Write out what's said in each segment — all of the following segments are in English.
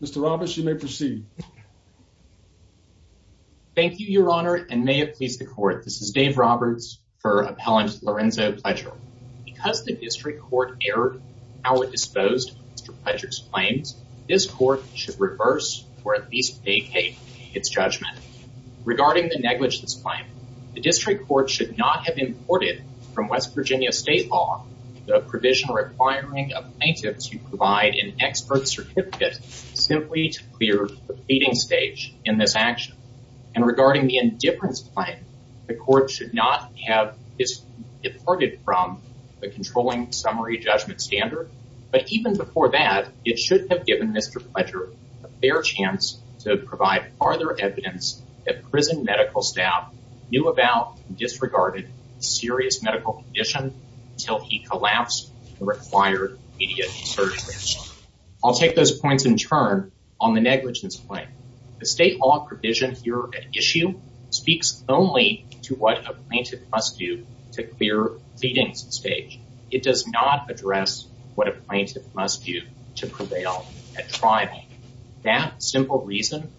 Mr. Roberts, you may proceed. Thank you, Your Honor, and may it please the court. This is Dave Roberts for Appellant Lorenzo Pledger. Because the district court erred in how it disposed of Mr. Pledger's claims, this court should reverse or at least vacate its judgment. Regarding the negligence claim, the district court should not have imported from West Virginia state law the provision requiring a plaintiff to provide an expert certificate simply to clear the pleading stage in this action. And regarding the indifference claim, the court should not have this deported from the controlling summary judgment standard. But even before that, it should have given Mr. Pledger a fair chance to provide further evidence that prison medical staff knew about disregarded serious medical condition until he collapsed the required immediate surgery. I'll take those points in turn. On the negligence claim, the state law provision here at issue speaks only to what a plaintiff must do to clear pleadings stage. It does not address what a plaintiff must do to prevail at trial. That simple reason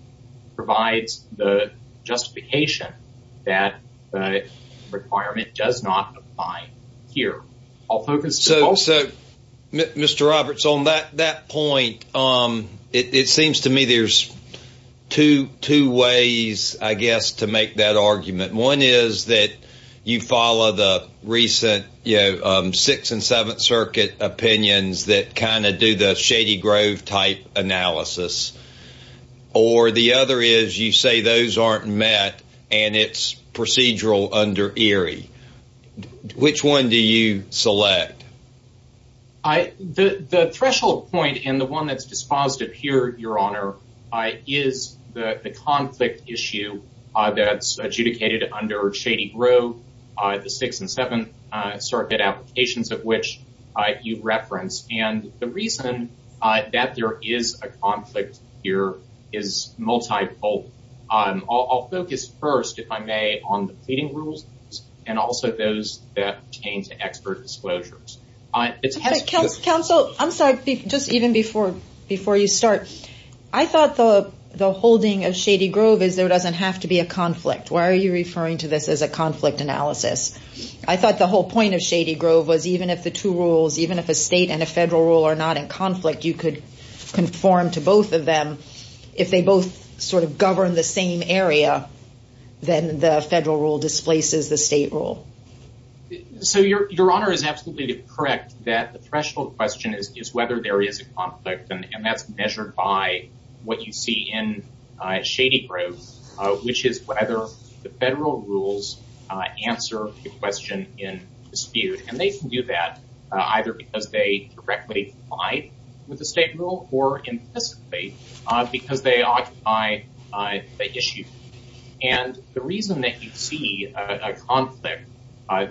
provides the justification that the here. I'll focus so Mr. Roberts on that that point. Um, it seems to me there's two two ways, I guess to make that argument. One is that you follow the recent, you know, Sixth and Seventh Circuit opinions that kind of do the shady Grove type analysis. Or the other is you say those aren't met, and it's procedural under Erie. Which one do you select? I the threshold point and the one that's dispositive here, Your Honor, I is the conflict issue that's adjudicated under shady Grove, the Sixth and Seventh Circuit applications of which I you've referenced and the reason that there is a conflict here is multiple. I'll focus first if I may on the leading rules, and also those that change the expert disclosures. Counsel, I'm sorry, just even before before you start, I thought the the holding of shady Grove is there doesn't have to be a conflict. Why are you referring to this as a conflict analysis? I thought the whole point of shady Grove was even if the two rules even if a state and a federal rule are not in conflict, you could conform to both of them. If they both sort of govern the same area, then the federal rule displaces the state rule. So your Your Honor is absolutely correct that the threshold question is whether there is a conflict and that's measured by what you see in shady Grove, which is whether the federal rules answer the question in dispute and they can do that either because they directly comply with the state rule or implicitly because they occupy the issue. And the reason that you see a conflict,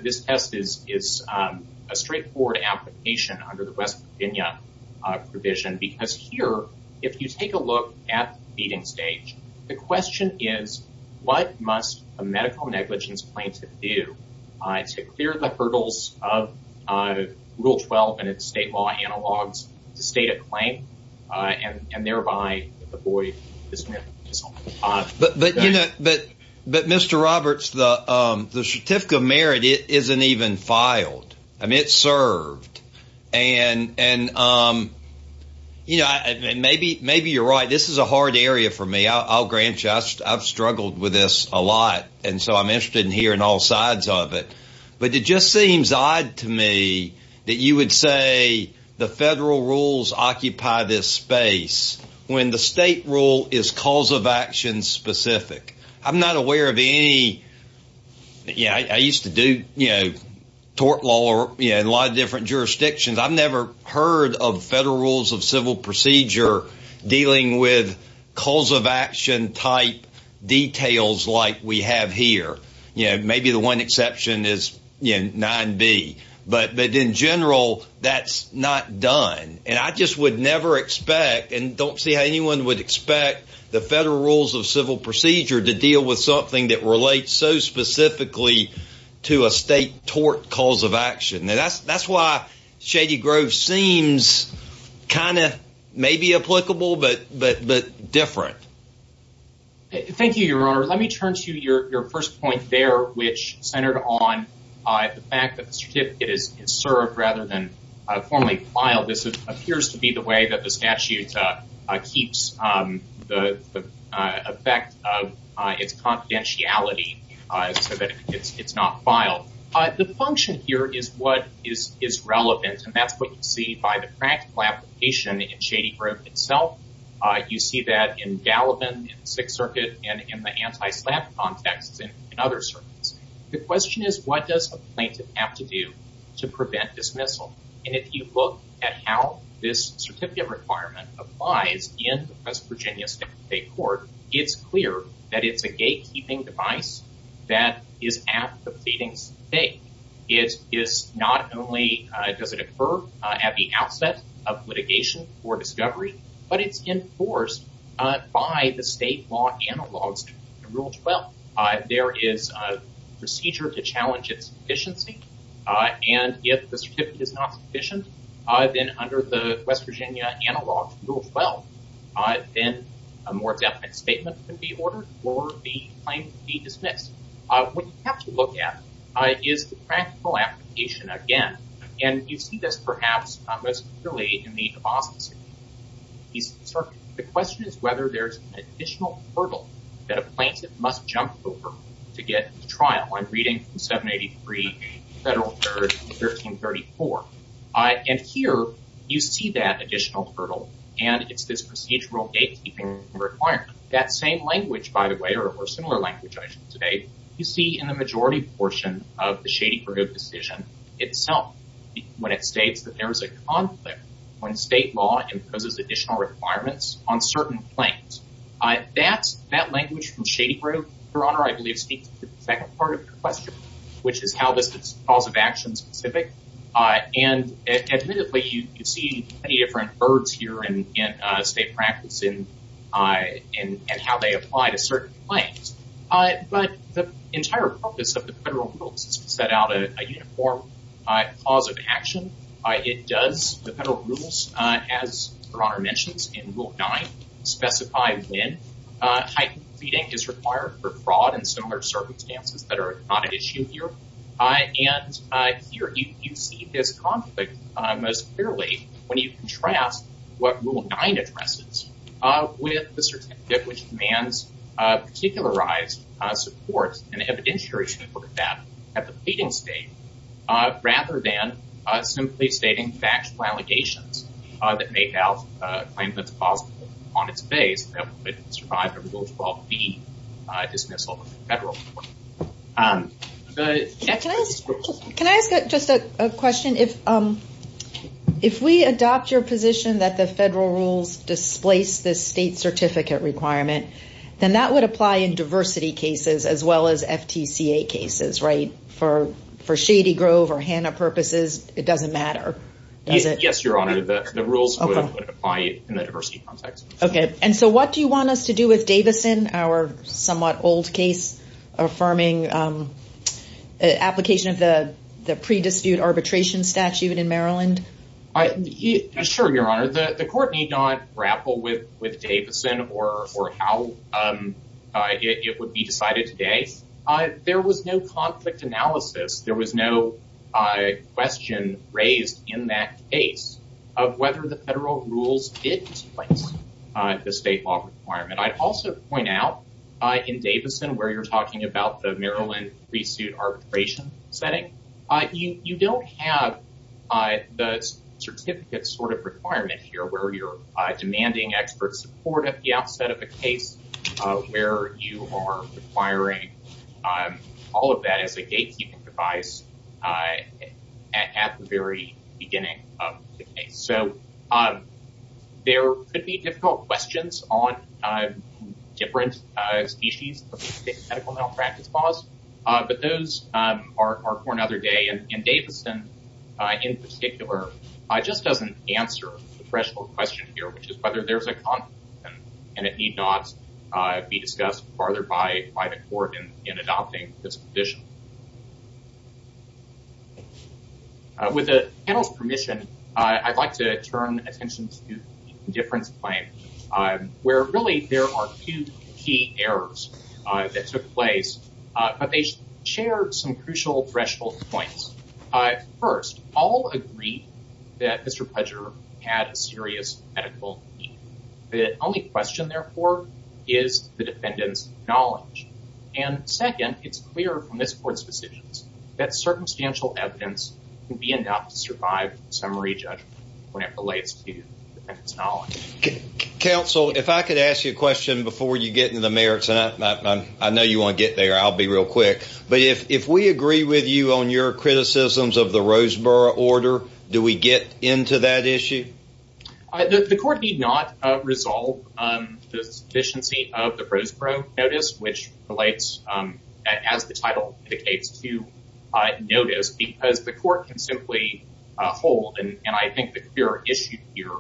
this test is is a straightforward application under the West Virginia provision. Because here, if you take a look at beating stage, the question is, what must a medical negligence claim to do to clear the hurdles of Rule 12 and its state law analogs to state a claim and thereby avoid this? But but you know, but, but Mr. Roberts, the certificate of merit isn't even filed. I mean, it's served. And and, you know, I mean, maybe maybe you're right. This is a hard area for me. I'll grant just I've struggled with this a lot. And so I'm interested in hearing all sides of it. But it just seems odd to me that you would say the federal rules occupy this space, when the state rule is cause of action specific. I'm not aware of any. Yeah, I used to do, you know, tort law, or, you know, a lot of different jurisdictions, I've never heard of federal rules of civil procedure, dealing with calls of action type details like we have here, you know, maybe the one exception is in nine B, but but in general, that's not done. And I just would never expect and don't see how anyone would expect the federal rules of civil procedure to deal with something that relates so specifically to a state tort cause of action. And that's, that's why shady Grove seems kind of maybe applicable, but but but different. Thank you, Your Honor, let me turn to your first point there, which centered on the fact that certificate is served rather than formally filed. This appears to be the way that the statute keeps the effect of its confidentiality, so that it's not filed. The function here is what is is relevant. And that's what you see by the practical application in shady Grove itself. You see that in Gallivan, Sixth Circuit, and in anti-slap contexts in other circuits. The question is, what does a plaintiff have to do to prevent dismissal? And if you look at how this certificate requirement applies in West Virginia State Court, it's clear that it's a gatekeeping device that is at the pleading state. It is not only does it occur at the outset of litigation or discovery, but it's enforced by the state law analogs to rule 12. There is a procedure to challenge its efficiency. And if the certificate is not sufficient, then under the West Virginia analog rule 12, then a more definite statement can be ordered or the claim can be dismissed. What you have to look at is the practical application again. And you see this perhaps most clearly in the Boston East Circuit. The question is whether there's an additional hurdle that a plaintiff must jump over to get to trial. I'm reading from 783 Federal third, 1334. And here you see that additional hurdle. And it's this procedural gatekeeping requirement. That same language, by the way, or similar language I should say, you see in the majority portion of the shady Grove decision itself, when it states that there is a conflict when state law imposes additional requirements on certain claims. That's that language from shady Grove, Your Honor, I believe speaks to the second part of your question, which is how this is cause of action specific. And admittedly, you see many different birds here in state practice in and how they apply to certain claims. But the entire purpose of the federal rules is to set out a uniform cause of action. It does the federal rules, as Your Honor mentions in rule nine, specify when heightened pleading is required for fraud and similar circumstances that are not an issue here. And here you see this conflict most clearly when you contrast what rule nine addresses with the certificate which demands particularized support and evidentiary support of that at the pleading stage, rather than simply stating factual allegations that make out a claim that's possible on its base that would survive a rule 12B dismissal of the federal court. Can I ask just a question if if we adopt your position that the federal rules displace the state certificate requirement, then that would apply in diversity cases as well as FTCA cases, right? For Shady Grove or Hanna purposes, it doesn't matter? Yes, Your Honor, the rules apply in the diversity context. Okay. And so what do you want us to do with Davison, our somewhat old case, affirming application of the the pre dispute arbitration statute in Maryland? Sure, Your Honor, the court need not grapple with with Davison or or how it would be decided today. There was no conflict analysis, there was no question raised in that case of whether the federal rules did displace the state law requirement. I'd also point out, in Davison, where you're talking about the Maryland pre-suit arbitration setting, you don't have the certificate sort of requirement here where you're demanding expert support at the outset of the case, where you are requiring all of that as a gatekeeping device at the very beginning of the case. So there could be difficult questions on different species of medical malpractice laws. But those are for another day. And Davison, in particular, just doesn't answer the threshold question here, which is whether there's a conflict, and it need not be discussed further by by the court in adopting this position. With the panel's permission, I'd like to turn attention to difference claim, where really, there are two key errors that took place, but they share some crucial threshold points. First, all agree that Mr. Pudger had a serious medical need. The only question, therefore, is the defendant's knowledge. And second, it's clear from this court's decisions, that circumstantial evidence can be enough to survive a summary judgment when it relates to the defendant's knowledge. Counsel, if I could ask you a question before you get into the merits, and I know you want to get there, I'll be real quick. But if we agree with you on your criticisms of the Roseboro order, do we get into that issue? The court need not resolve the deficiency of the Roseboro notice, which relates, as the title indicates, to notice because the court can simply hold and I think the clear issue here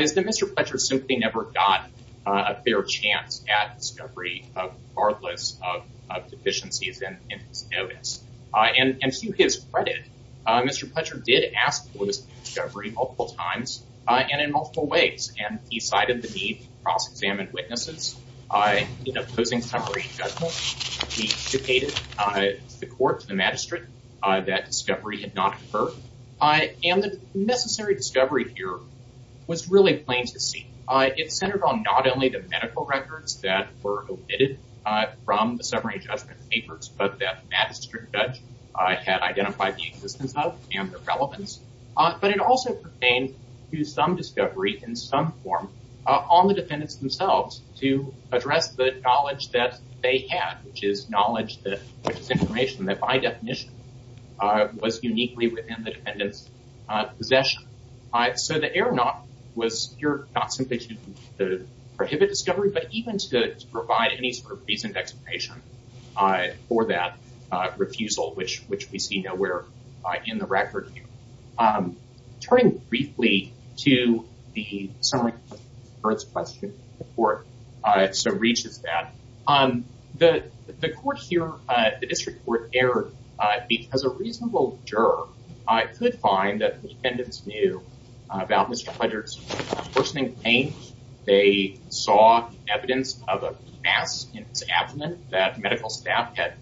is that Mr. Fletcher simply never got a fair chance at discovery, regardless of deficiencies in his notice. And to his credit, Mr. Fletcher did ask for this discovery multiple times, and in multiple ways, and he cited the need to cross examine witnesses. In opposing summary judgment, he dictated the court to the magistrate that discovery had not occurred. And the necessary discovery here was really plain to see. It centered on not only the medical records that were omitted from the summary judgment papers, but that magistrate judge had identified the existence of and the relevance. But it also pertained to some discovery in some form on the defendants themselves to address the knowledge that they had, which is knowledge that this information that by definition was uniquely within the defendant's possession. So the prohibit discovery, but even to provide any sort of reason explanation for that refusal, which which we see nowhere in the record. Turning briefly to the summary, first question report, so reaches that on the court here, the district court error, because a reasonable juror could find that the saw evidence of a mass in his abdomen that medical staff had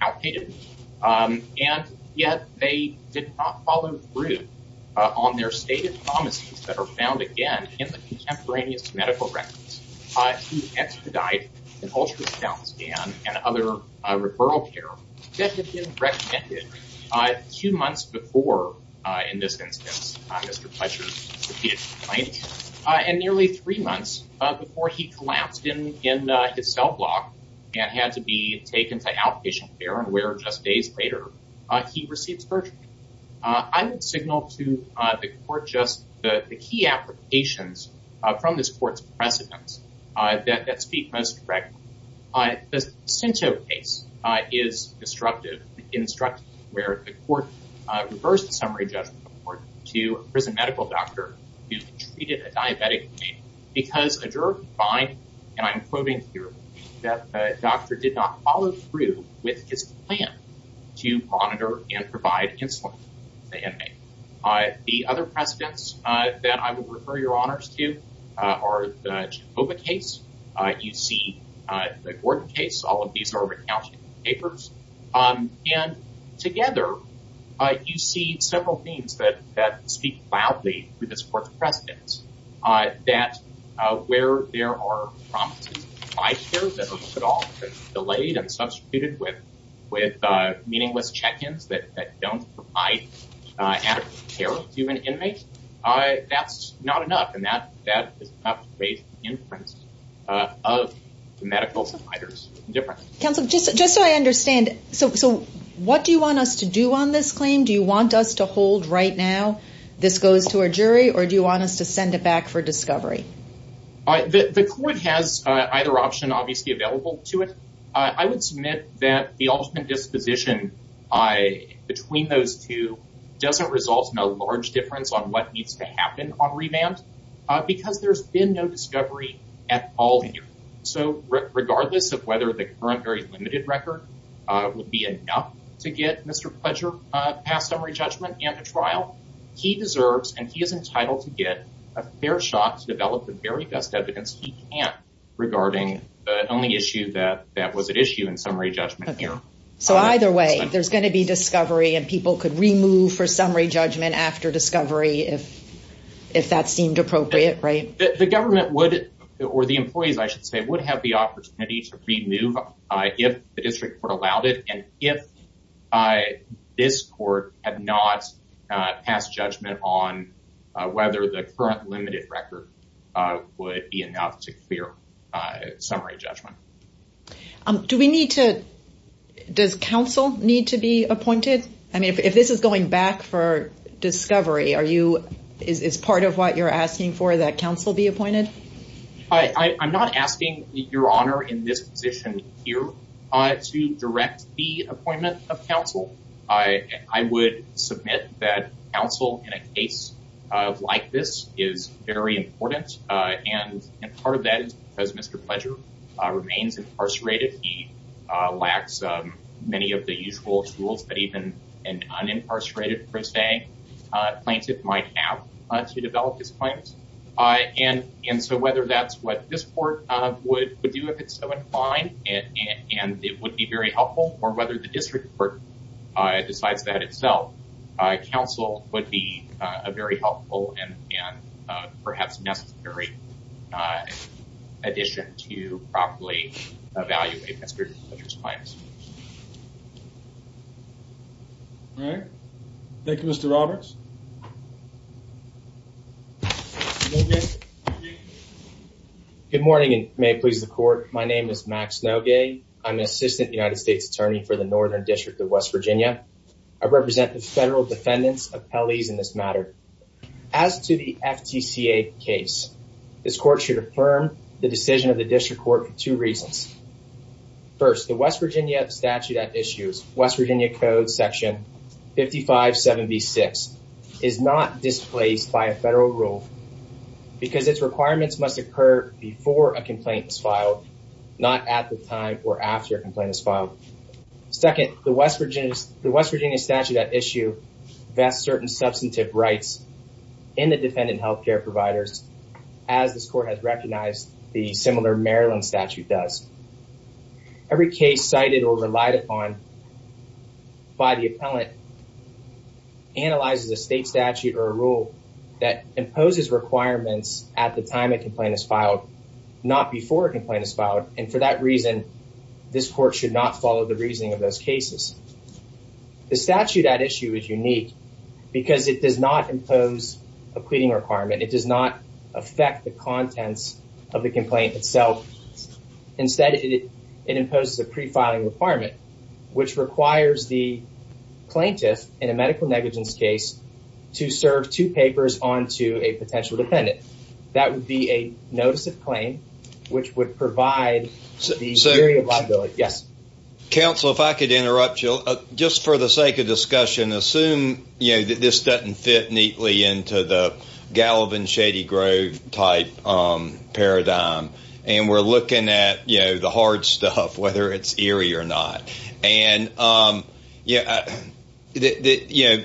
outdated. And yet they did not follow through on their stated promises that are found again, in the contemporaneous medical records, expedite an ultrasound scan and other referral care recommended two months before, in this instance, Mr. Fletcher clinic, and nearly three months before he collapsed in in his cell block, and had to be taken to outpatient care and where just days later, he received surgery. I would signal to the court just the key applications from this court's precedents that speak most correct. I sent a case is disruptive, instructive, where the court reversed the summary judgment to prison medical doctor who treated a diabetic because a juror find and I'm quoting here, that doctor did not follow through with his plan to monitor and provide insulin. The other precedents that I will refer your honors to our case, you see, the Gordon case, all of these are recounting papers. And together, you see several things that speak loudly with this court's precedents, that where there are five years at all, delayed and substituted with, with meaningless check ins that don't provide adequate care to an inmate. That's not enough. And that that is not based in print of medical providers counsel, just just so I understand. So what do you want us to do on this claim? Do you want us to hold right now? This goes to our jury? Or do you want us to send it back for discovery? I the court has either option obviously available to it. I would submit that the ultimate disposition I between those two doesn't result in a large difference on what needs to happen on revamped because there's been no discovery at all. So regardless of whether the current very limited record would be enough to get Mr. pleasure, pass summary judgment and a trial, he deserves and he is entitled to get a fair shot to develop the very best evidence he can regarding the only issue that that was at issue in summary judgment here. So either way, there's going to be discovery and people could remove for summary judgment after discovery if if that seemed appropriate, right? The government would, or the employees, I should say would have the opportunity to remove if the district court allowed it and if I this court had not passed judgment on whether the current limited record would be enough to clear summary judgment. Do we need to? Does counsel need to be appointed? I mean, if this is going back for discovery, are you is part of what you're asking for? Would counsel be appointed? I'm not asking your honor in this position here to direct the appointment of counsel, I would submit that counsel in a case like this is very important. And part of that is because Mr. pleasure remains incarcerated, he lacks many of the usual tools but even an unincarcerated per se, plaintiff might have to and and so whether that's what this court would would do if it's so inclined, and it would be very helpful or whether the district court decides that itself, counsel would be a very helpful and perhaps necessary addition to properly evaluate Mr. pleasure's claims. All right. Thank you, Mr. Roberts. Good morning, and may it please the court. My name is Max Nogay. I'm an assistant United States Attorney for the Northern District of West Virginia. I represent the federal defendants of Pelley's in this matter. As to the FTCA case, this court should affirm the decision of the district court for two reasons. First, the West Virginia statute that issues West Virginia code section 5576 is not displaced by a federal rule, because its requirements must occur before a complaint is filed, not at the time or after a complaint is filed. Second, the West Virginia statute that issue vests certain substantive rights in the defendant healthcare providers, as this court has recognized the similar Maryland statute does. Every case cited or relied upon by the appellant analyzes a state statute or a rule that imposes requirements at the time a complaint is filed, not before a complaint is filed. And for that reason, this court should not follow the reasoning of those cases. The statute at issue is unique because it does not impose a pleading requirement. It does not affect the contents of the complaint itself. Instead, it imposes a pre-filing requirement, which requires the plaintiff in a to serve two papers on to a potential defendant. That would be a notice of claim, which would provide the area of liability. Yes. Counsel, if I could interrupt you, just for the sake of discussion, assume you know that this doesn't fit neatly into the Gallivan Shady Grove type paradigm. And we're looking at you know, the hard stuff, whether it's eerie or not. And yeah, that you know,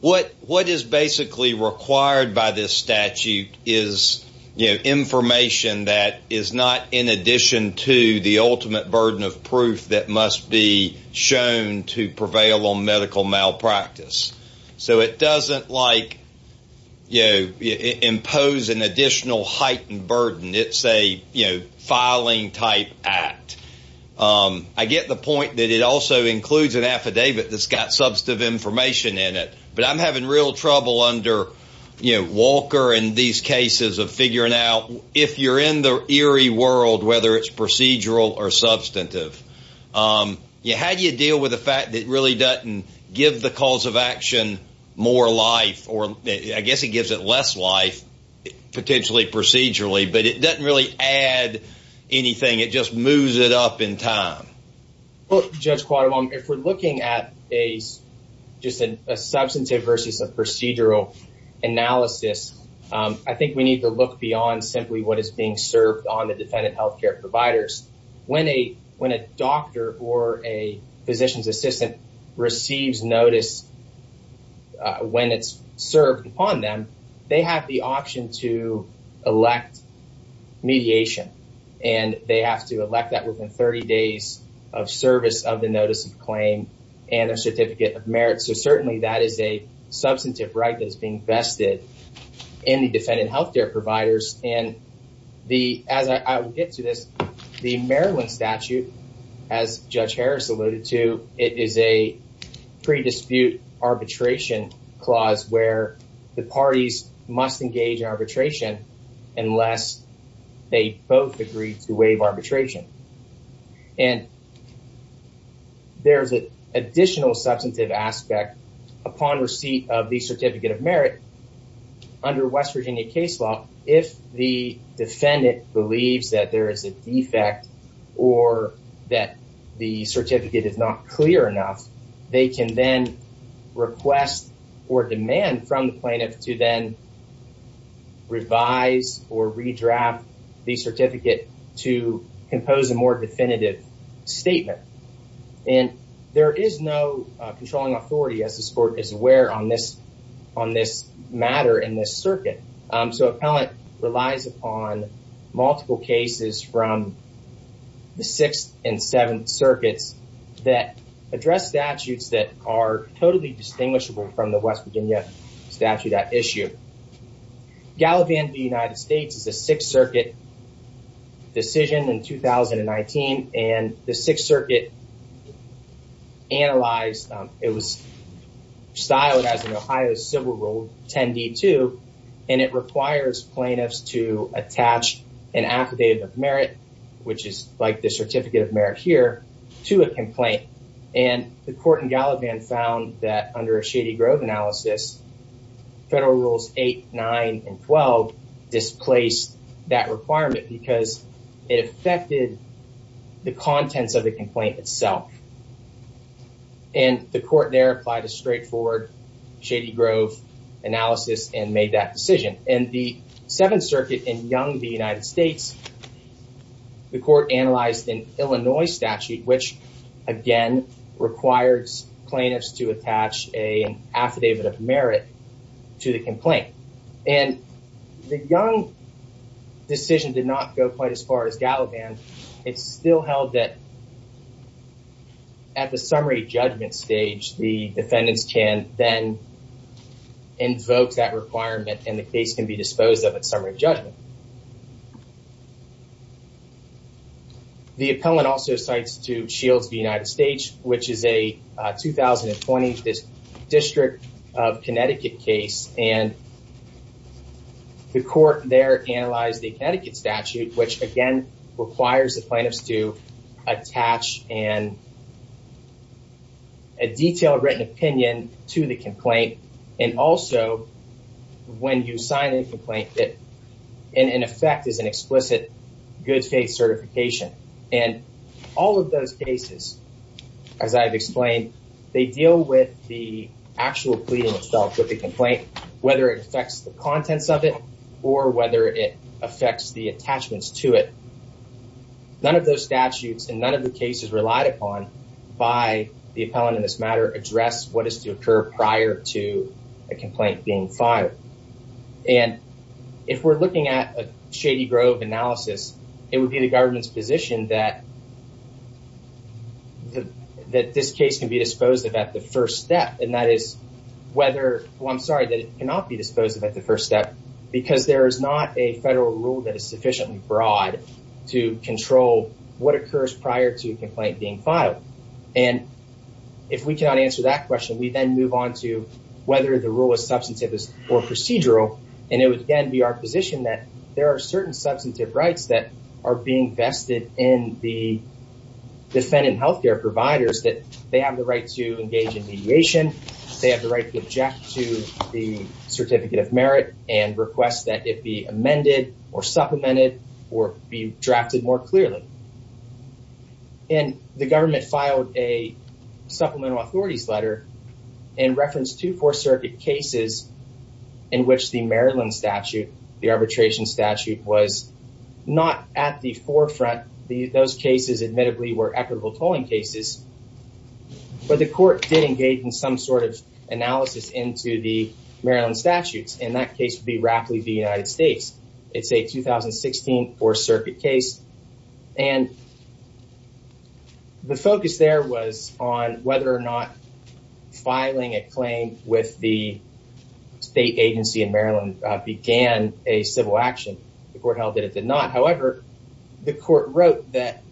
what what is basically required by this statute is, you know, information that is not in addition to the ultimate burden of proof that must be shown to prevail on medical malpractice. So it doesn't like, you know, impose an additional heightened burden. It's a, you know, type act. I get the point that it also includes an affidavit that's got substantive information in it. But I'm having real trouble under, you know, Walker and these cases of figuring out if you're in the eerie world, whether it's procedural or substantive. You had you deal with the fact that really doesn't give the cause of action, more life, or I guess it gives it less life, potentially procedurally, but it doesn't really add anything, it just moves it up in time. Well, Judge Quattlebaum, if we're looking at a, just a substantive versus a procedural analysis, I think we need to look beyond simply what is being served on the defendant health care providers. When a when a doctor or a physician's assistant receives notice, when it's served upon them, they have the option to elect mediation. And they have to elect that within 30 days of service of the notice of claim, and a certificate of merit. So certainly that is a substantive right that is being vested in the defendant health care providers. And the as I get to this, the Maryland statute, as Judge Harris alluded to, it is a pre dispute arbitration clause where the parties must engage arbitration, unless they both agree to waive arbitration. And there's an additional substantive aspect, upon receipt of the certificate of merit. Under West Virginia case law, if the defendant believes that there is a defect, or that the certificate is not clear enough, they can then request or demand from the plaintiff to then revise or redraft the certificate to compose a more definitive statement. And there is no controlling authority as the sport is aware on this, on this matter in this circuit. So appellant relies upon multiple cases from the sixth and seventh circuits that address statutes that are totally distinguishable from the West Virginia statute at issue. Gallivan, the United States is a Sixth Circuit decision in 2019. And the Sixth Circuit analyzed, it was styled as an Ohio civil rule 10d2. And it requires plaintiffs to attach an affidavit of merit, which is like the certificate of merit here to a complaint. And the court in Gallivan found that under a Shady Grove analysis, federal rules eight, nine, and 12, displace that requirement because it affected the contents of the complaint itself. And the court there applied a straightforward Shady Grove analysis and made that decision. And the Seventh Circuit in Young the United States, the court analyzed in Illinois statute, which, again, requires plaintiffs to attach a affidavit of merit to the complaint. And the young decision did not go quite as far as Gallivan, it's still held that at the summary judgment stage, the defendants can then invoke that requirement and the case can be disposed of at summary judgment. The appellant also cites to Shields v. United States, which is a 2020 District of Connecticut case and the court there analyzed the Connecticut statute, which again, requires the plaintiffs to attach and a detailed written opinion to the When you sign a complaint that in effect is an explicit good faith certification. And all of those cases, as I've explained, they deal with the actual pleading itself with the complaint, whether it affects the contents of it, or whether it affects the attachments to it. None of those statutes and none of the cases relied upon by the appellant in this matter address what is to occur prior to a complaint being fired. And if we're looking at a Shady Grove analysis, it would be the government's position that this case can be disposed of at the first step. And that is whether, well, I'm sorry that it cannot be disposed of at the first step, because there is not a federal rule that is sufficiently broad to control what occurs prior to a complaint being filed. And if we cannot answer that question, we then move on to whether the rule is substantive or procedural. And it would again be our position that there are certain substantive rights that are being vested in the defendant health care providers that they have the right to engage in mediation, they have the right to object to the certificate of merit and request that it be amended or supplemented, or be drafted more clearly. And the government filed a supplemental authorities letter and reference to four circuit cases, in which the Maryland statute, the arbitration statute was not at the forefront, the those cases, admittedly, were equitable tolling cases. But the court did engage in some sort of analysis into the Maryland statutes, and that case would be rapidly the United States, it's a 2016 or circuit case. And the focus there was on whether or not filing a claim with the state agency in Maryland began a civil action. The court held that it did not. However, the court wrote that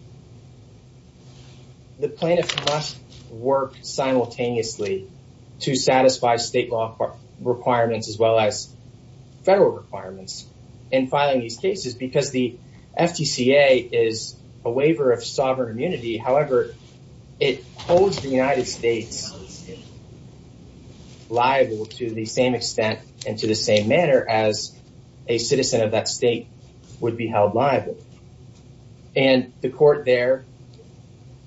the plaintiff must work simultaneously to satisfy state law requirements as well as federal requirements in filing these cases because the FTCA is a waiver of sovereign liable to the same extent and to the same manner as a citizen of that state would be held liable. And the court there,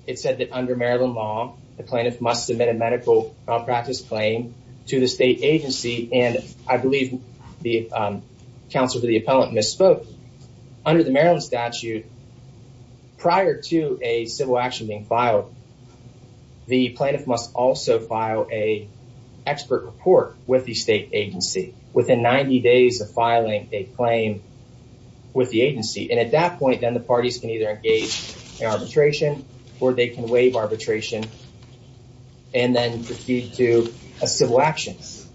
it said that under Maryland law, the plaintiff must submit a medical practice claim to the state agency. And I believe the counselor to the appellant misspoke under the Maryland statute. Prior to a civil action being filed, the plaintiff must also file a expert report with the state agency within 90 days of filing a claim with the agency. And at that point, then the parties can either engage in arbitration, or they can waive arbitration and then proceed to a civil actions.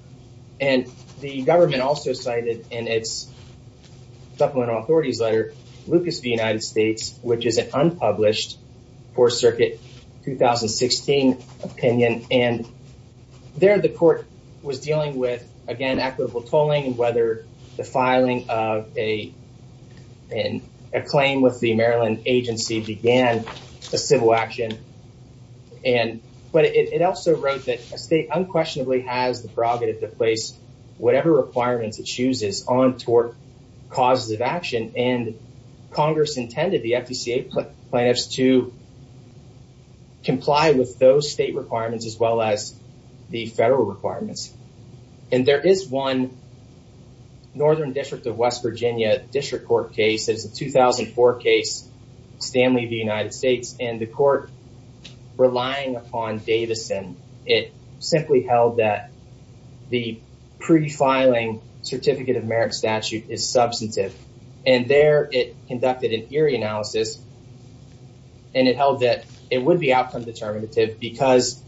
And the government also cited in its supplemental authorities letter, Lucas the United States, which is an unpublished for circuit 2016 opinion. And there the court was dealing with, again, equitable tolling and whether the filing of a claim with the Maryland agency began a civil action. And but it also wrote that a state unquestionably has the prerogative to place whatever requirements it chooses on toward causes of action and Congress intended the FECA plaintiffs to comply with those state requirements as well as the federal requirements. And there is one Northern District of West Virginia District Court case is a 2004 case, Stanley, the United States and the court relying upon Davidson, it simply held that the pre filing certificate of merit statute is substantive. And there it conducted an eerie analysis. And it held that it would be outcome determinative because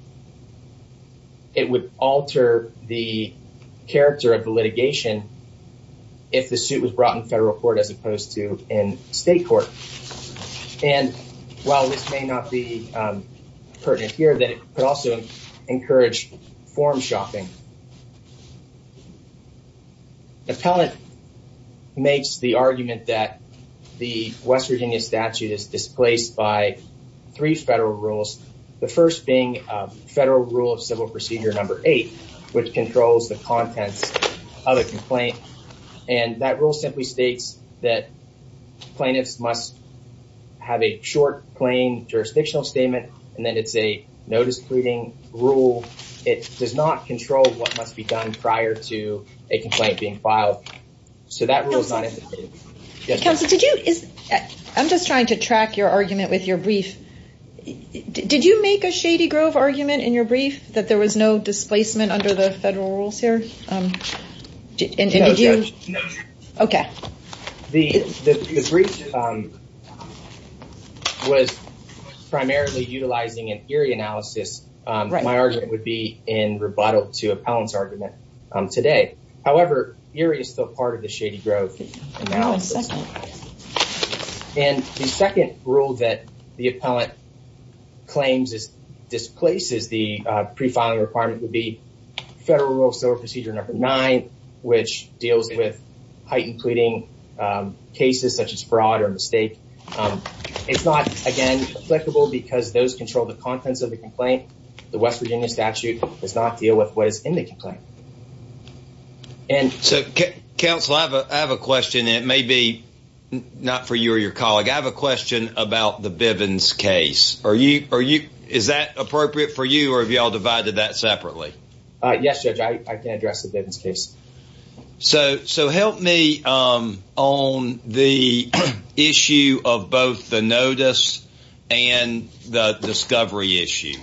it would alter the character of the litigation. If the suit was brought in federal court as opposed to in state court. And while this may not be pertinent here that it could also encourage form shopping. Appellant makes the argument that the West Virginia statute is displaced by three federal rules. The first being federal rule of civil procedure number eight, which controls the contents of a complaint. And that rule simply states that plaintiffs must have a short plain jurisdictional statement. And then it's a notice pleading rule. It does not control what must be done prior to a complaint being filed. So that rule is not... Counsel, did you is I'm just trying to track your argument with your brief. Did you make a Shady Grove argument in your brief that there was no displacement under the federal rules here? Did you? Okay. The brief was primarily utilizing an eerie analysis. My argument would be in rebuttal to appellant's argument today. However, eerie is still part of the Shady Grove analysis. And the second rule that the appellant claims is displaces the pre filing requirement would be federal rule of civil procedure number nine, which deals with heightened pleading cases such as fraud or mistake. It's not again, applicable because those control the contents of the complaint. The West Virginia statute does not deal with what is in the complaint. And so, counsel, I have a question. It may be not for you or your colleague. I have a question about the Bivens case. Are you are you is that appropriate for you? Or have y'all divided that separately? Yes, Judge, I can address the Bivens case. So so help me on the issue of both the notice and the discovery issue.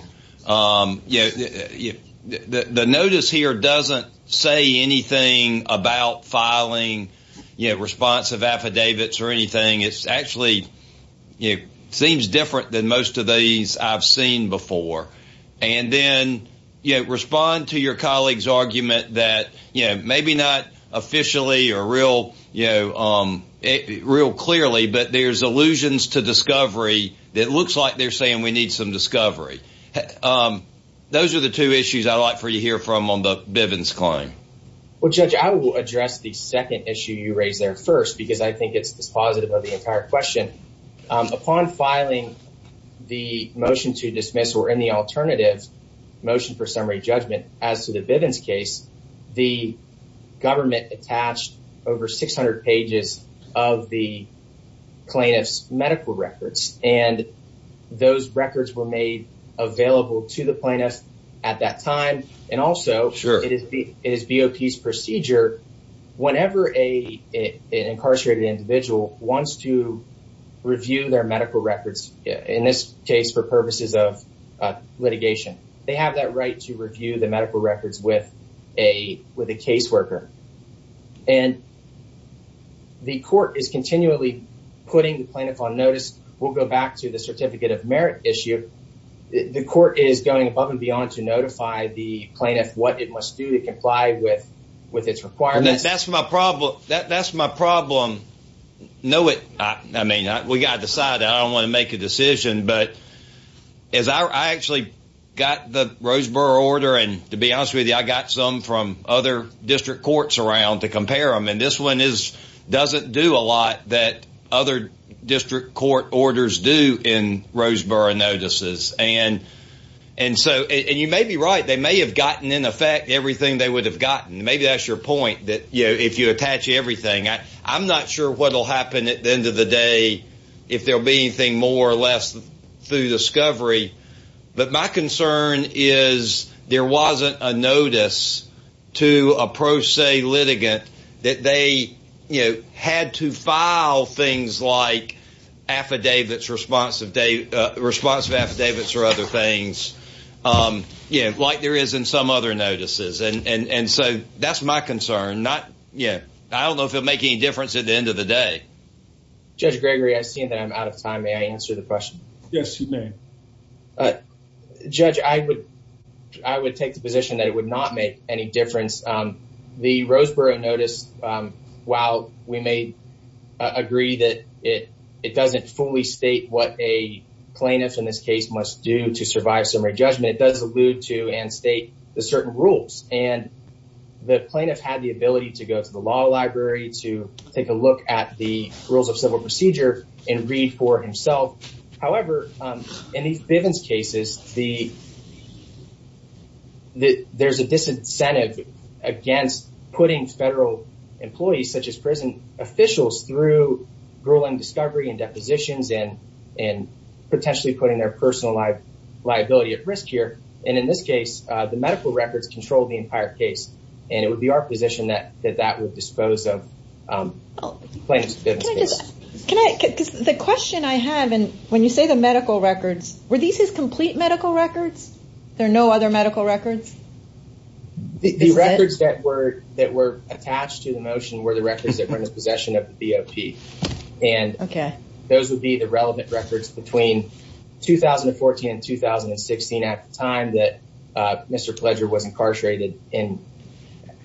You know, the notice here doesn't say anything about filing, you know, responsive affidavits or anything. It's actually, it seems different than most of these I've seen before. And then, you know, respond to your colleague's argument that, you know, maybe not officially or real, you know, real clearly, but there's allusions to discovery that looks like they're saying we need some discovery. Those are the two issues I'd like for you to hear from on the Bivens claim. Well, Judge, I will address the second issue you raised there first, because I think it's dispositive of the entire question. Upon filing the motion to dismiss or any alternative motion for summary judgment, as to the Bivens case, the government attached over 600 pages of the plaintiff's medical records. And those records were made available to the plaintiff at that time. And also sure it is BOP's procedure. Whenever a incarcerated individual wants to review their medical records, in this case, for purposes of litigation, they have that right to review the medical records with a with a caseworker. And the court is continually putting the plaintiff on notice, we'll go back to the certificate of merit issue. The court is going above and beyond to notify the plaintiff what it must do to comply with with its requirements. That's my problem. That's my problem. No, it I mean, we got decided I don't want to make a decision. But as I actually got the Roseboro order, and to be honest with you, I got some from other district courts around to compare them. And this one is, doesn't do a lot that other district court orders do in Roseboro notices. And, and so you may be right, they may have gotten in effect everything they would have gotten. Maybe that's your point that, you know, if you attach everything, I, I'm not sure what will happen at the end of the day, if there'll be anything more or less through discovery. But my concern is, there wasn't a notice to a pro se litigant that they, you know, had to file things like affidavits, responsive day, responsive affidavits or other things. Yeah, like there is in some other notices. And so that's my concern. Not yet. I don't know if it'll make any difference at the end of the day. Judge Gregory, I see that I'm out of time. May I answer the question? Yes, you may. Judge, I would, I would take the position that it would not make any difference. The Roseboro notice, while we may agree that it, it doesn't fully state what a plaintiff in this case must do to survive summary judgment, it does allude to and state the certain rules and the plaintiff had the ability to go to the law library to take a look at the rules of civil procedure and read for himself. However, in these Bivens cases, the there's a disincentive against putting federal employees such as prison officials through grueling discovery and depositions and, potentially putting their personal life liability at risk here. And in this case, the medical records control the entire case. And it would be our position that that that would dispose of plaintiff's Bivens case. Can I, because the question I have, and when you say the medical records, were these his complete medical records? There are no other medical records? The records that were that were attached to the motion were the records that were in his possession of the BOP. And those would be the relevant records between 2014 and 2016 at the time that Mr. Pledger was incarcerated in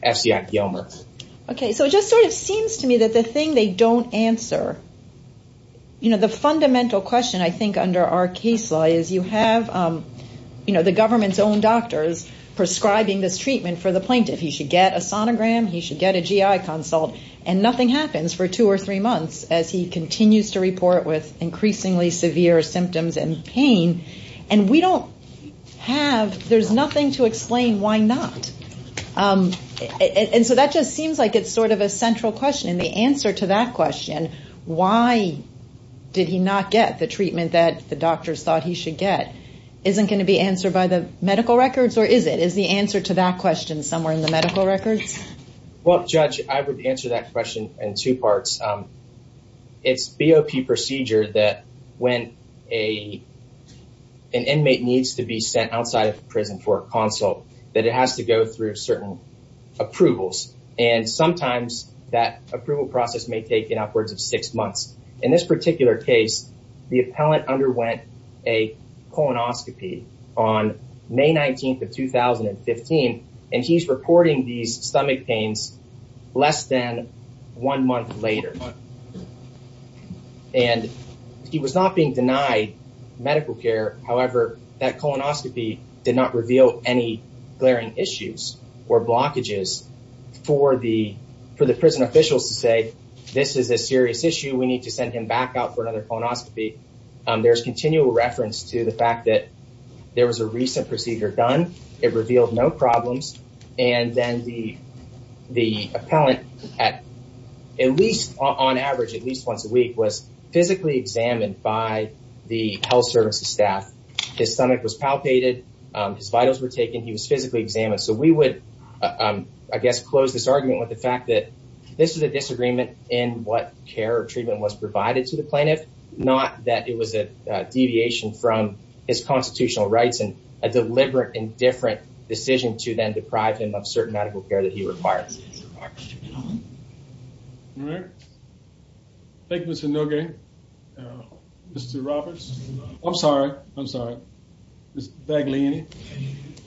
FCI Gilmer. Okay, so it just sort of seems to me that the thing they don't answer, you know, the fundamental question, I think, under our case law is you have, you know, the government's own doctors prescribing this treatment for the plaintiff, he should get a sonogram, he should get a GI consult, and nothing happens for two or three months as he continues to report with increasingly severe symptoms and pain. And we don't have, there's nothing to explain why not. And so that just seems like it's sort of a central question. And the answer to that question, why did he not get the treatment that the doctors thought he should get, isn't going to be answered by the medical records? Or is it? Is the answer to that question somewhere in the medical records? Well, Judge, I would answer that question in two parts. It's BOP procedure that when a, an inmate needs to be sent outside of prison for a consult, that it has to go through certain approvals. And sometimes that approval process may take in upwards of six months. In this particular case, the appellant underwent a colonoscopy on May 19 of 2015. And he's reporting these stomach pains less than one month later. And he was not being denied medical care. However, that colonoscopy did not reveal any glaring issues or blockages for the, for the prison officials to say, this is a serious issue, we need to send him back out for another colonoscopy. There's continual reference to the fact that there was a recent procedure done, it was a colonoscopy. And the, the appellant, at least on average, at least once a week was physically examined by the health services staff. His stomach was palpated, his vitals were taken, he was physically examined. So we would, I guess, close this argument with the fact that this is a disagreement in what care or treatment was provided to the plaintiff, not that it was a deviation from his constitutional rights and a medical care that he requires. Thank you, Mr. Nogue. Mr. Roberts. I'm sorry. I'm sorry. Ms. Bagliani.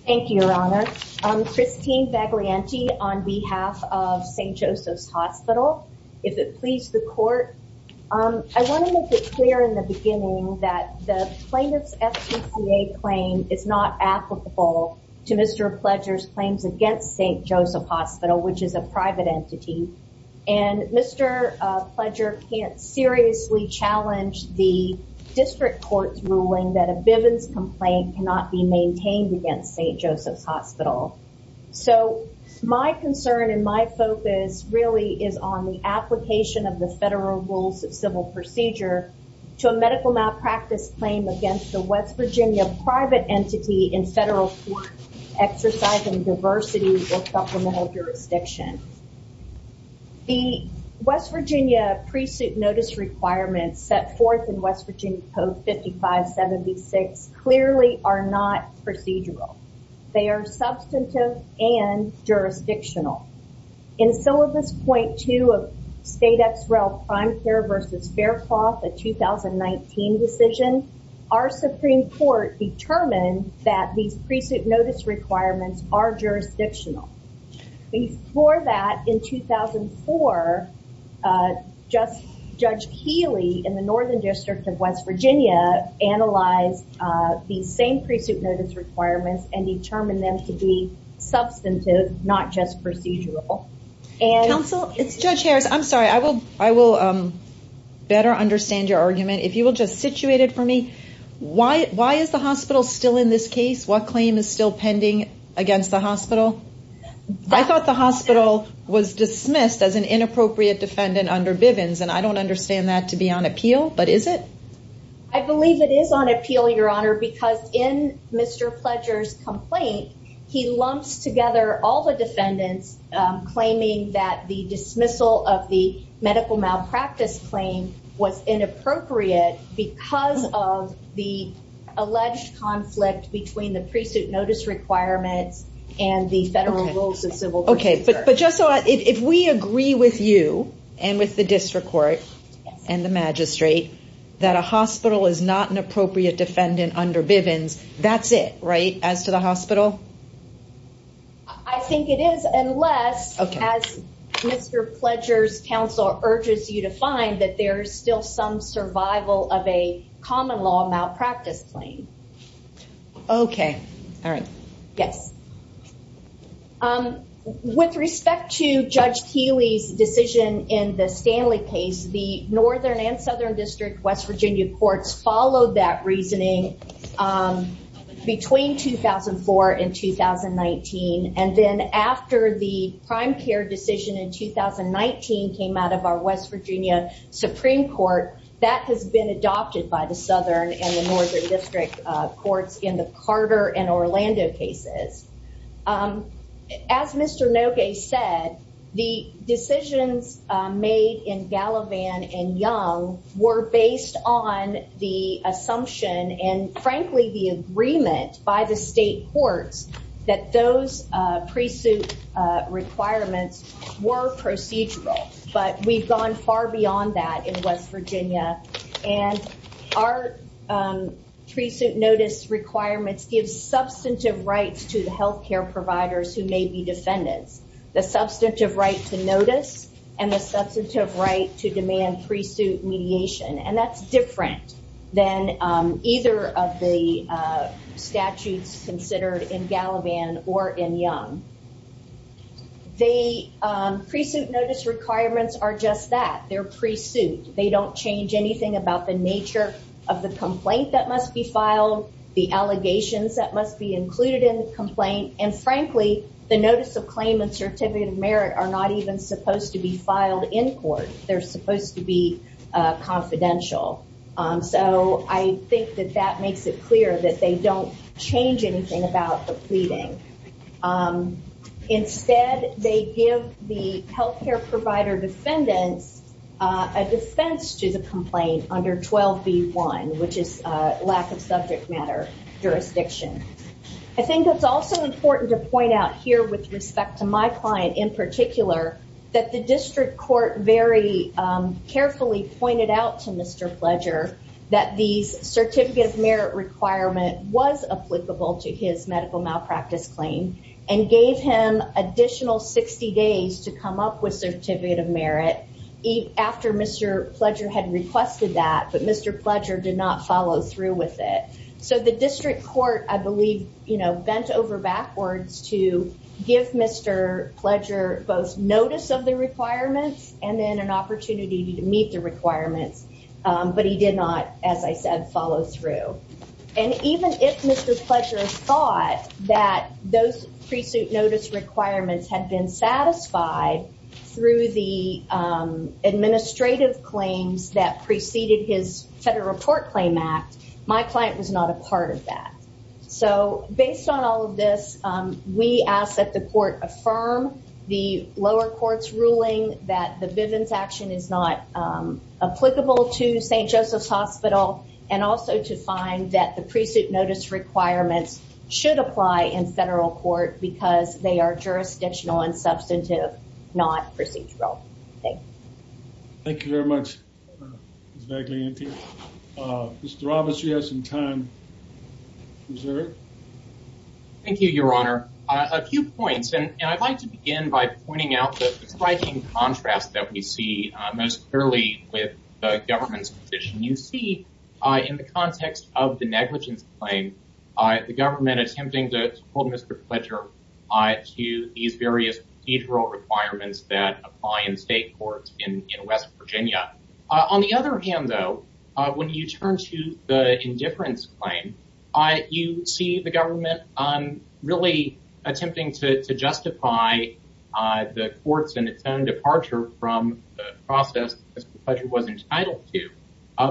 Thank you, Your Honor. I'm Christine Bagliani on behalf of St. Joseph's Hospital. If it please the court, I want to make it clear in the beginning that the plaintiff's FTCA claim is not applicable to Mr. Pledger's claims against St. Joseph Hospital, which is a private entity. And Mr. Pledger can't seriously challenge the district court's ruling that a Bivens complaint cannot be maintained against St. Joseph's Hospital. So my concern and my focus really is on the application of the federal rules of civil procedure to a medical malpractice claim against the West Virginia private entity in federal court exercising diversity or supplemental jurisdiction. The West Virginia pre-suit notice requirements set forth in West Virginia Code 5576 clearly are not procedural. They are substantive and jurisdictional. In syllabus 0.2 of state XREL prime care versus Faircloth, a 2019 decision, our Supreme Court determined that these pre-suit notice requirements are jurisdictional. Before that in 2004, Judge Healy in the Northern District of West Virginia analyzed the same pre-suit notice requirements and determined them to be substantive, not just procedural. Counsel, it's Judge Harris. I'm sorry. I will better understand your argument. If you will just situate it for me. Why is the hospital still in this case? What claim is still pending against the hospital? I thought the hospital was dismissed as an inappropriate defendant under Bivens and I don't understand that to be on appeal, but is it? I believe it is on appeal, Your Honor, because in Mr. Pledger's case, there were defendants claiming that the dismissal of the medical malpractice claim was inappropriate because of the alleged conflict between the pre-suit notice requirements and the federal rules of civil. Okay, but just so if we agree with you and with the district court and the magistrate that a hospital is not an appropriate defendant under Bivens, that's it, right? As to the hospital? I think it is, unless, as Mr. Pledger's counsel urges you to find, that there is still some survival of a common law malpractice claim. Okay. All right. Yes. With respect to Judge Keeley's decision in the Stanley case, the Northern and Southern District West Virginia courts followed that reasoning between 2004 and 2019. And then after the prime care decision in 2019 came out of our West Virginia Supreme Court, that has been adopted by the Southern and the Northern District courts in the Carter and Orlando cases. As Mr. Nogue said, the decisions made in Gallivan and Young were based on the assumption and frankly, the agreement by the state courts that those pre-suit requirements were procedural. But we've gone far beyond that in West Virginia. And our pre-suit notice requirements give substantive rights to the healthcare providers who may be defendants, the substantive right to notice and the substantive right to demand pre-suit mediation. And that's different than either of the statutes considered in Gallivan or in Young. The pre-suit notice requirements are just that, they're pre-suit. They don't change anything about the nature of the complaint that must be filed, the allegations that must be included in the complaint. And frankly, the notice of claim and certificate of merit are not even supposed to be filed in court, they're supposed to be confidential. So I think that that makes it clear that they don't change anything about the pleading. Instead, they give the healthcare provider defendants a defense to the complaint under 12b1, which is a lack of subject matter jurisdiction. I think that's also important to point out here with respect to my client in particular, that the district court very carefully pointed out to Mr. Pledger that these certificate of merit requirement was applicable to his medical malpractice claim and gave him additional 60 days to come up with certificate of merit after Mr. Pledger had requested that, but Mr. Pledger did not follow through with it. So the district court, I believe, you know, bent over backwards to give Mr. Pledger both notice of the requirements and then an opportunity to meet the requirements. But he did not, as I said, follow through. And even if Mr. Pledger thought that those pre-suit notice requirements had been satisfied through the administrative claims that preceded his Federal Report Claim Act, my client was not a part of that. So based on all of this, we ask that the court affirm the lower court's ruling that the Bivens action is not applicable to St. Joseph's Hospital, and also to find that the pre-suit notice requirements should apply in federal court because they are jurisdictional and substantive, not procedural. Thank you very much, Ms. Vaglianti. Mr. Roberts, you have some time reserved. Thank you, Your Honor. A few points, and I'd like to begin by pointing out the striking contrast that we see most clearly with the government's position. You see, in the context of the negligence claim, the government attempting to hold Mr. Pledger to these various procedural requirements that apply in state courts in West Virginia. On the other hand, though, when you turn to the indifference claim, you see the government really attempting to justify the court's and its own departure from the process that Mr. Pledger was entitled to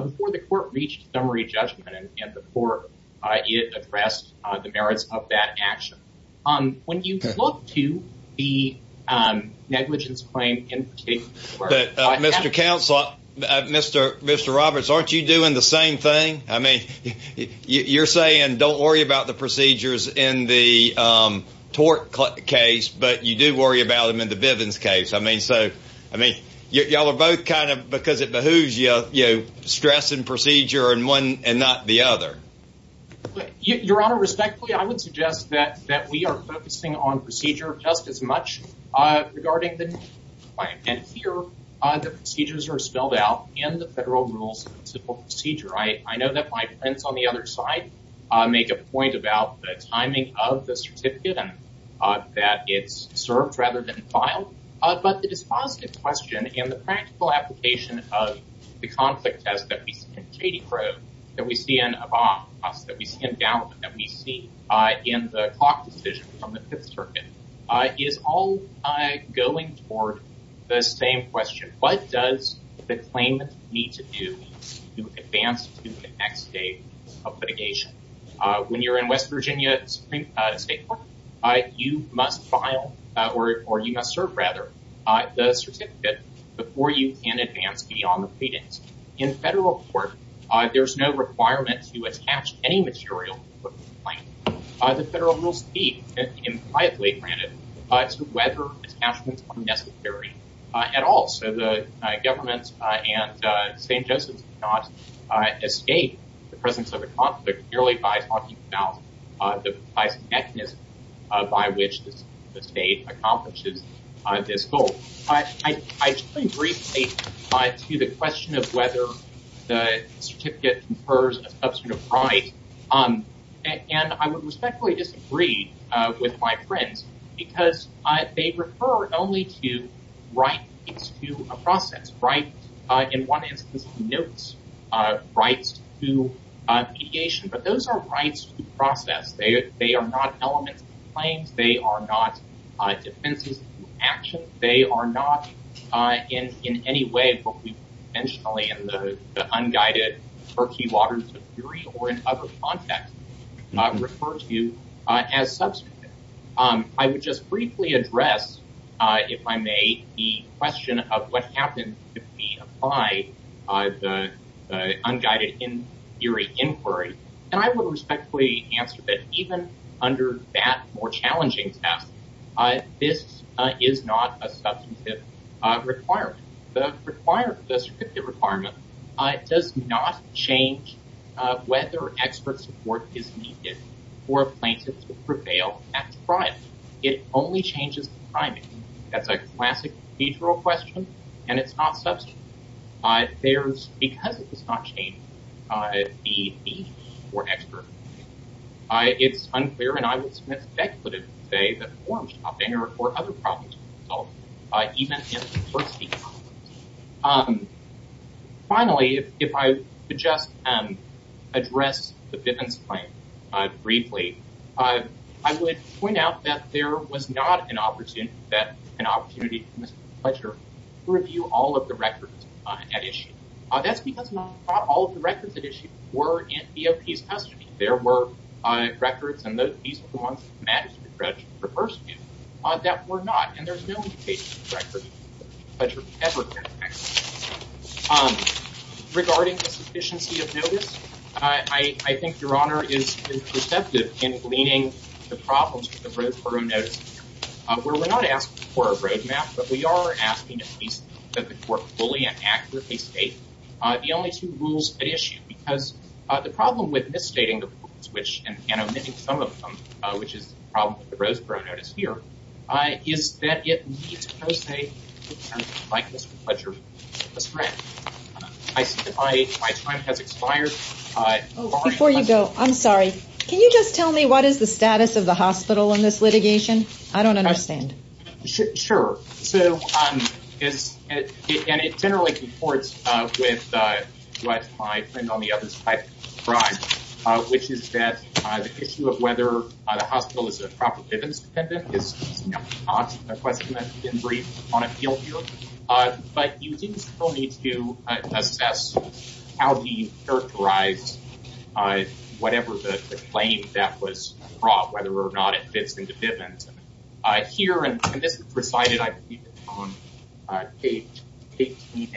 before the court reached summary judgment and before it addressed the merits of that action. When you look to the negligence claim in particular... Mr. Counselor, Mr. Roberts, aren't you doing the same thing? I mean, you're saying don't worry about the procedures in the Tort case, but you do worry about them in the Bivens case. I mean, so, I mean, y'all are both kind of, because it behooves you, you know, stress and procedure and one and not the other. Your Honor, respectfully, I would suggest that we are focusing on procedure just as much regarding the negligence claim. And here, the procedures are spelled out in the federal rules of civil procedure. I know that my friends on the other side make a point about the timing of the certificate and that it's served rather than filed. But it is a positive question in the practical application of the conflict test that we see in Katie Crowe, that we see in Abbas, that we see in the Fifth Circuit, is all going toward the same question. What does the claimant need to do to advance to the next stage of litigation? When you're in West Virginia Supreme State Court, you must file or you must serve rather, the certificate before you can advance beyond the pleadings. In federal court, there's no requirement to attach any material to the claim. The client may grant it, but whether it's necessary at all. So the government and St. Joseph's have not escaped the presence of a conflict merely by talking about the mechanism by which the state accomplishes this goal. I briefly to the question of whether the certificate confers a substitute of right on and I would respectfully disagree with my friends, because they refer only to rights to a process, right? In one instance, notes, rights to mediation, but those are rights to process, they are not elements of claims, they are not defenses to actions, they are not in any way, intentionally in the unguided murky waters of as substantive. I would just briefly address, if I may, the question of what happened to be applied by the unguided in theory inquiry. And I will respectfully answer that even under that more challenging test, this is not a substantive requirement, the required certificate requirement does not change whether expert support is needed for plaintiffs to prevail at trial, it only changes the timing. That's a classic procedural question. And it's not substantive. There's because it does not change the need for expert. It's unclear and I will submit speculative say that forms are there for other problems. Even if Finally, if I could just address the bitman's claim, briefly, I would point out that there was not an opportunity that an opportunity for Mr. Fletcher to review all of the records at issue. That's because not all of the records at issue were in DOP's custody. There were records and those piece of law that were not and there's no record. Um, regarding the sufficiency of notice, I think Your Honor is receptive in gleaning the problems with the Roseborough notice, where we're not asked for a roadmap, but we are asking at least that the court fully and accurately state the only two rules at issue because the problem with misstating the switch and omitting some of them, which is the problem with the Roseborough notice here, is that it needs to post a likeness with Fletcher. I see my time has expired. Before you go, I'm sorry. Can you just tell me what is the status of the hospital in this litigation? I don't understand. Sure. So, um, it's it and it generally comports with what I think on the other side, which is that the issue of whether the hospital is a property that is not a question that's been briefed on appeal here. But you do still need to assess how he characterized whatever the claim that was brought, whether or not it fits into Bivens. Here, and this was recited, I believe, on page 18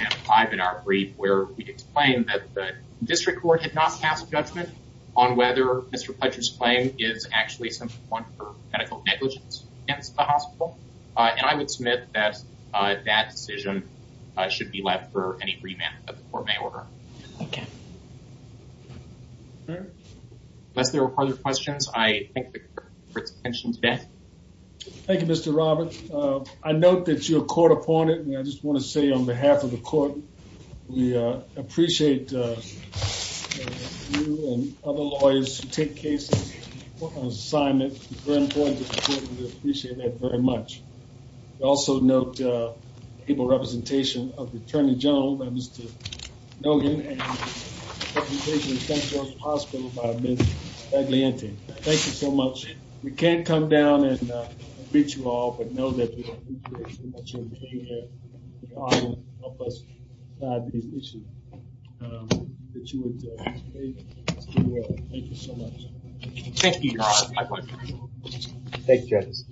and five in our brief, where we explained that the district court had not passed judgment on whether Mr. Fletcher's claim is actually some point for medical negligence against the hospital. And I would submit that that decision should be left for any remand that the court may order. Unless there are other questions, I thank the court for its attention today. Thank you, Mr. Robert. I note that you're a court opponent. And I just want to say on behalf of the court, we appreciate you and other lawyers who take cases on assignment. It's very important to appreciate that very much. Also note the able representation of the Attorney General, Mr. Nogan, and the representation of St. George Hospital by Ms. Staglianti. Thank you so much. We can't come down and beat you all, but know that we appreciate you for being here, to help us with these issues. Thank you so much. Thank you. Thank you, judges.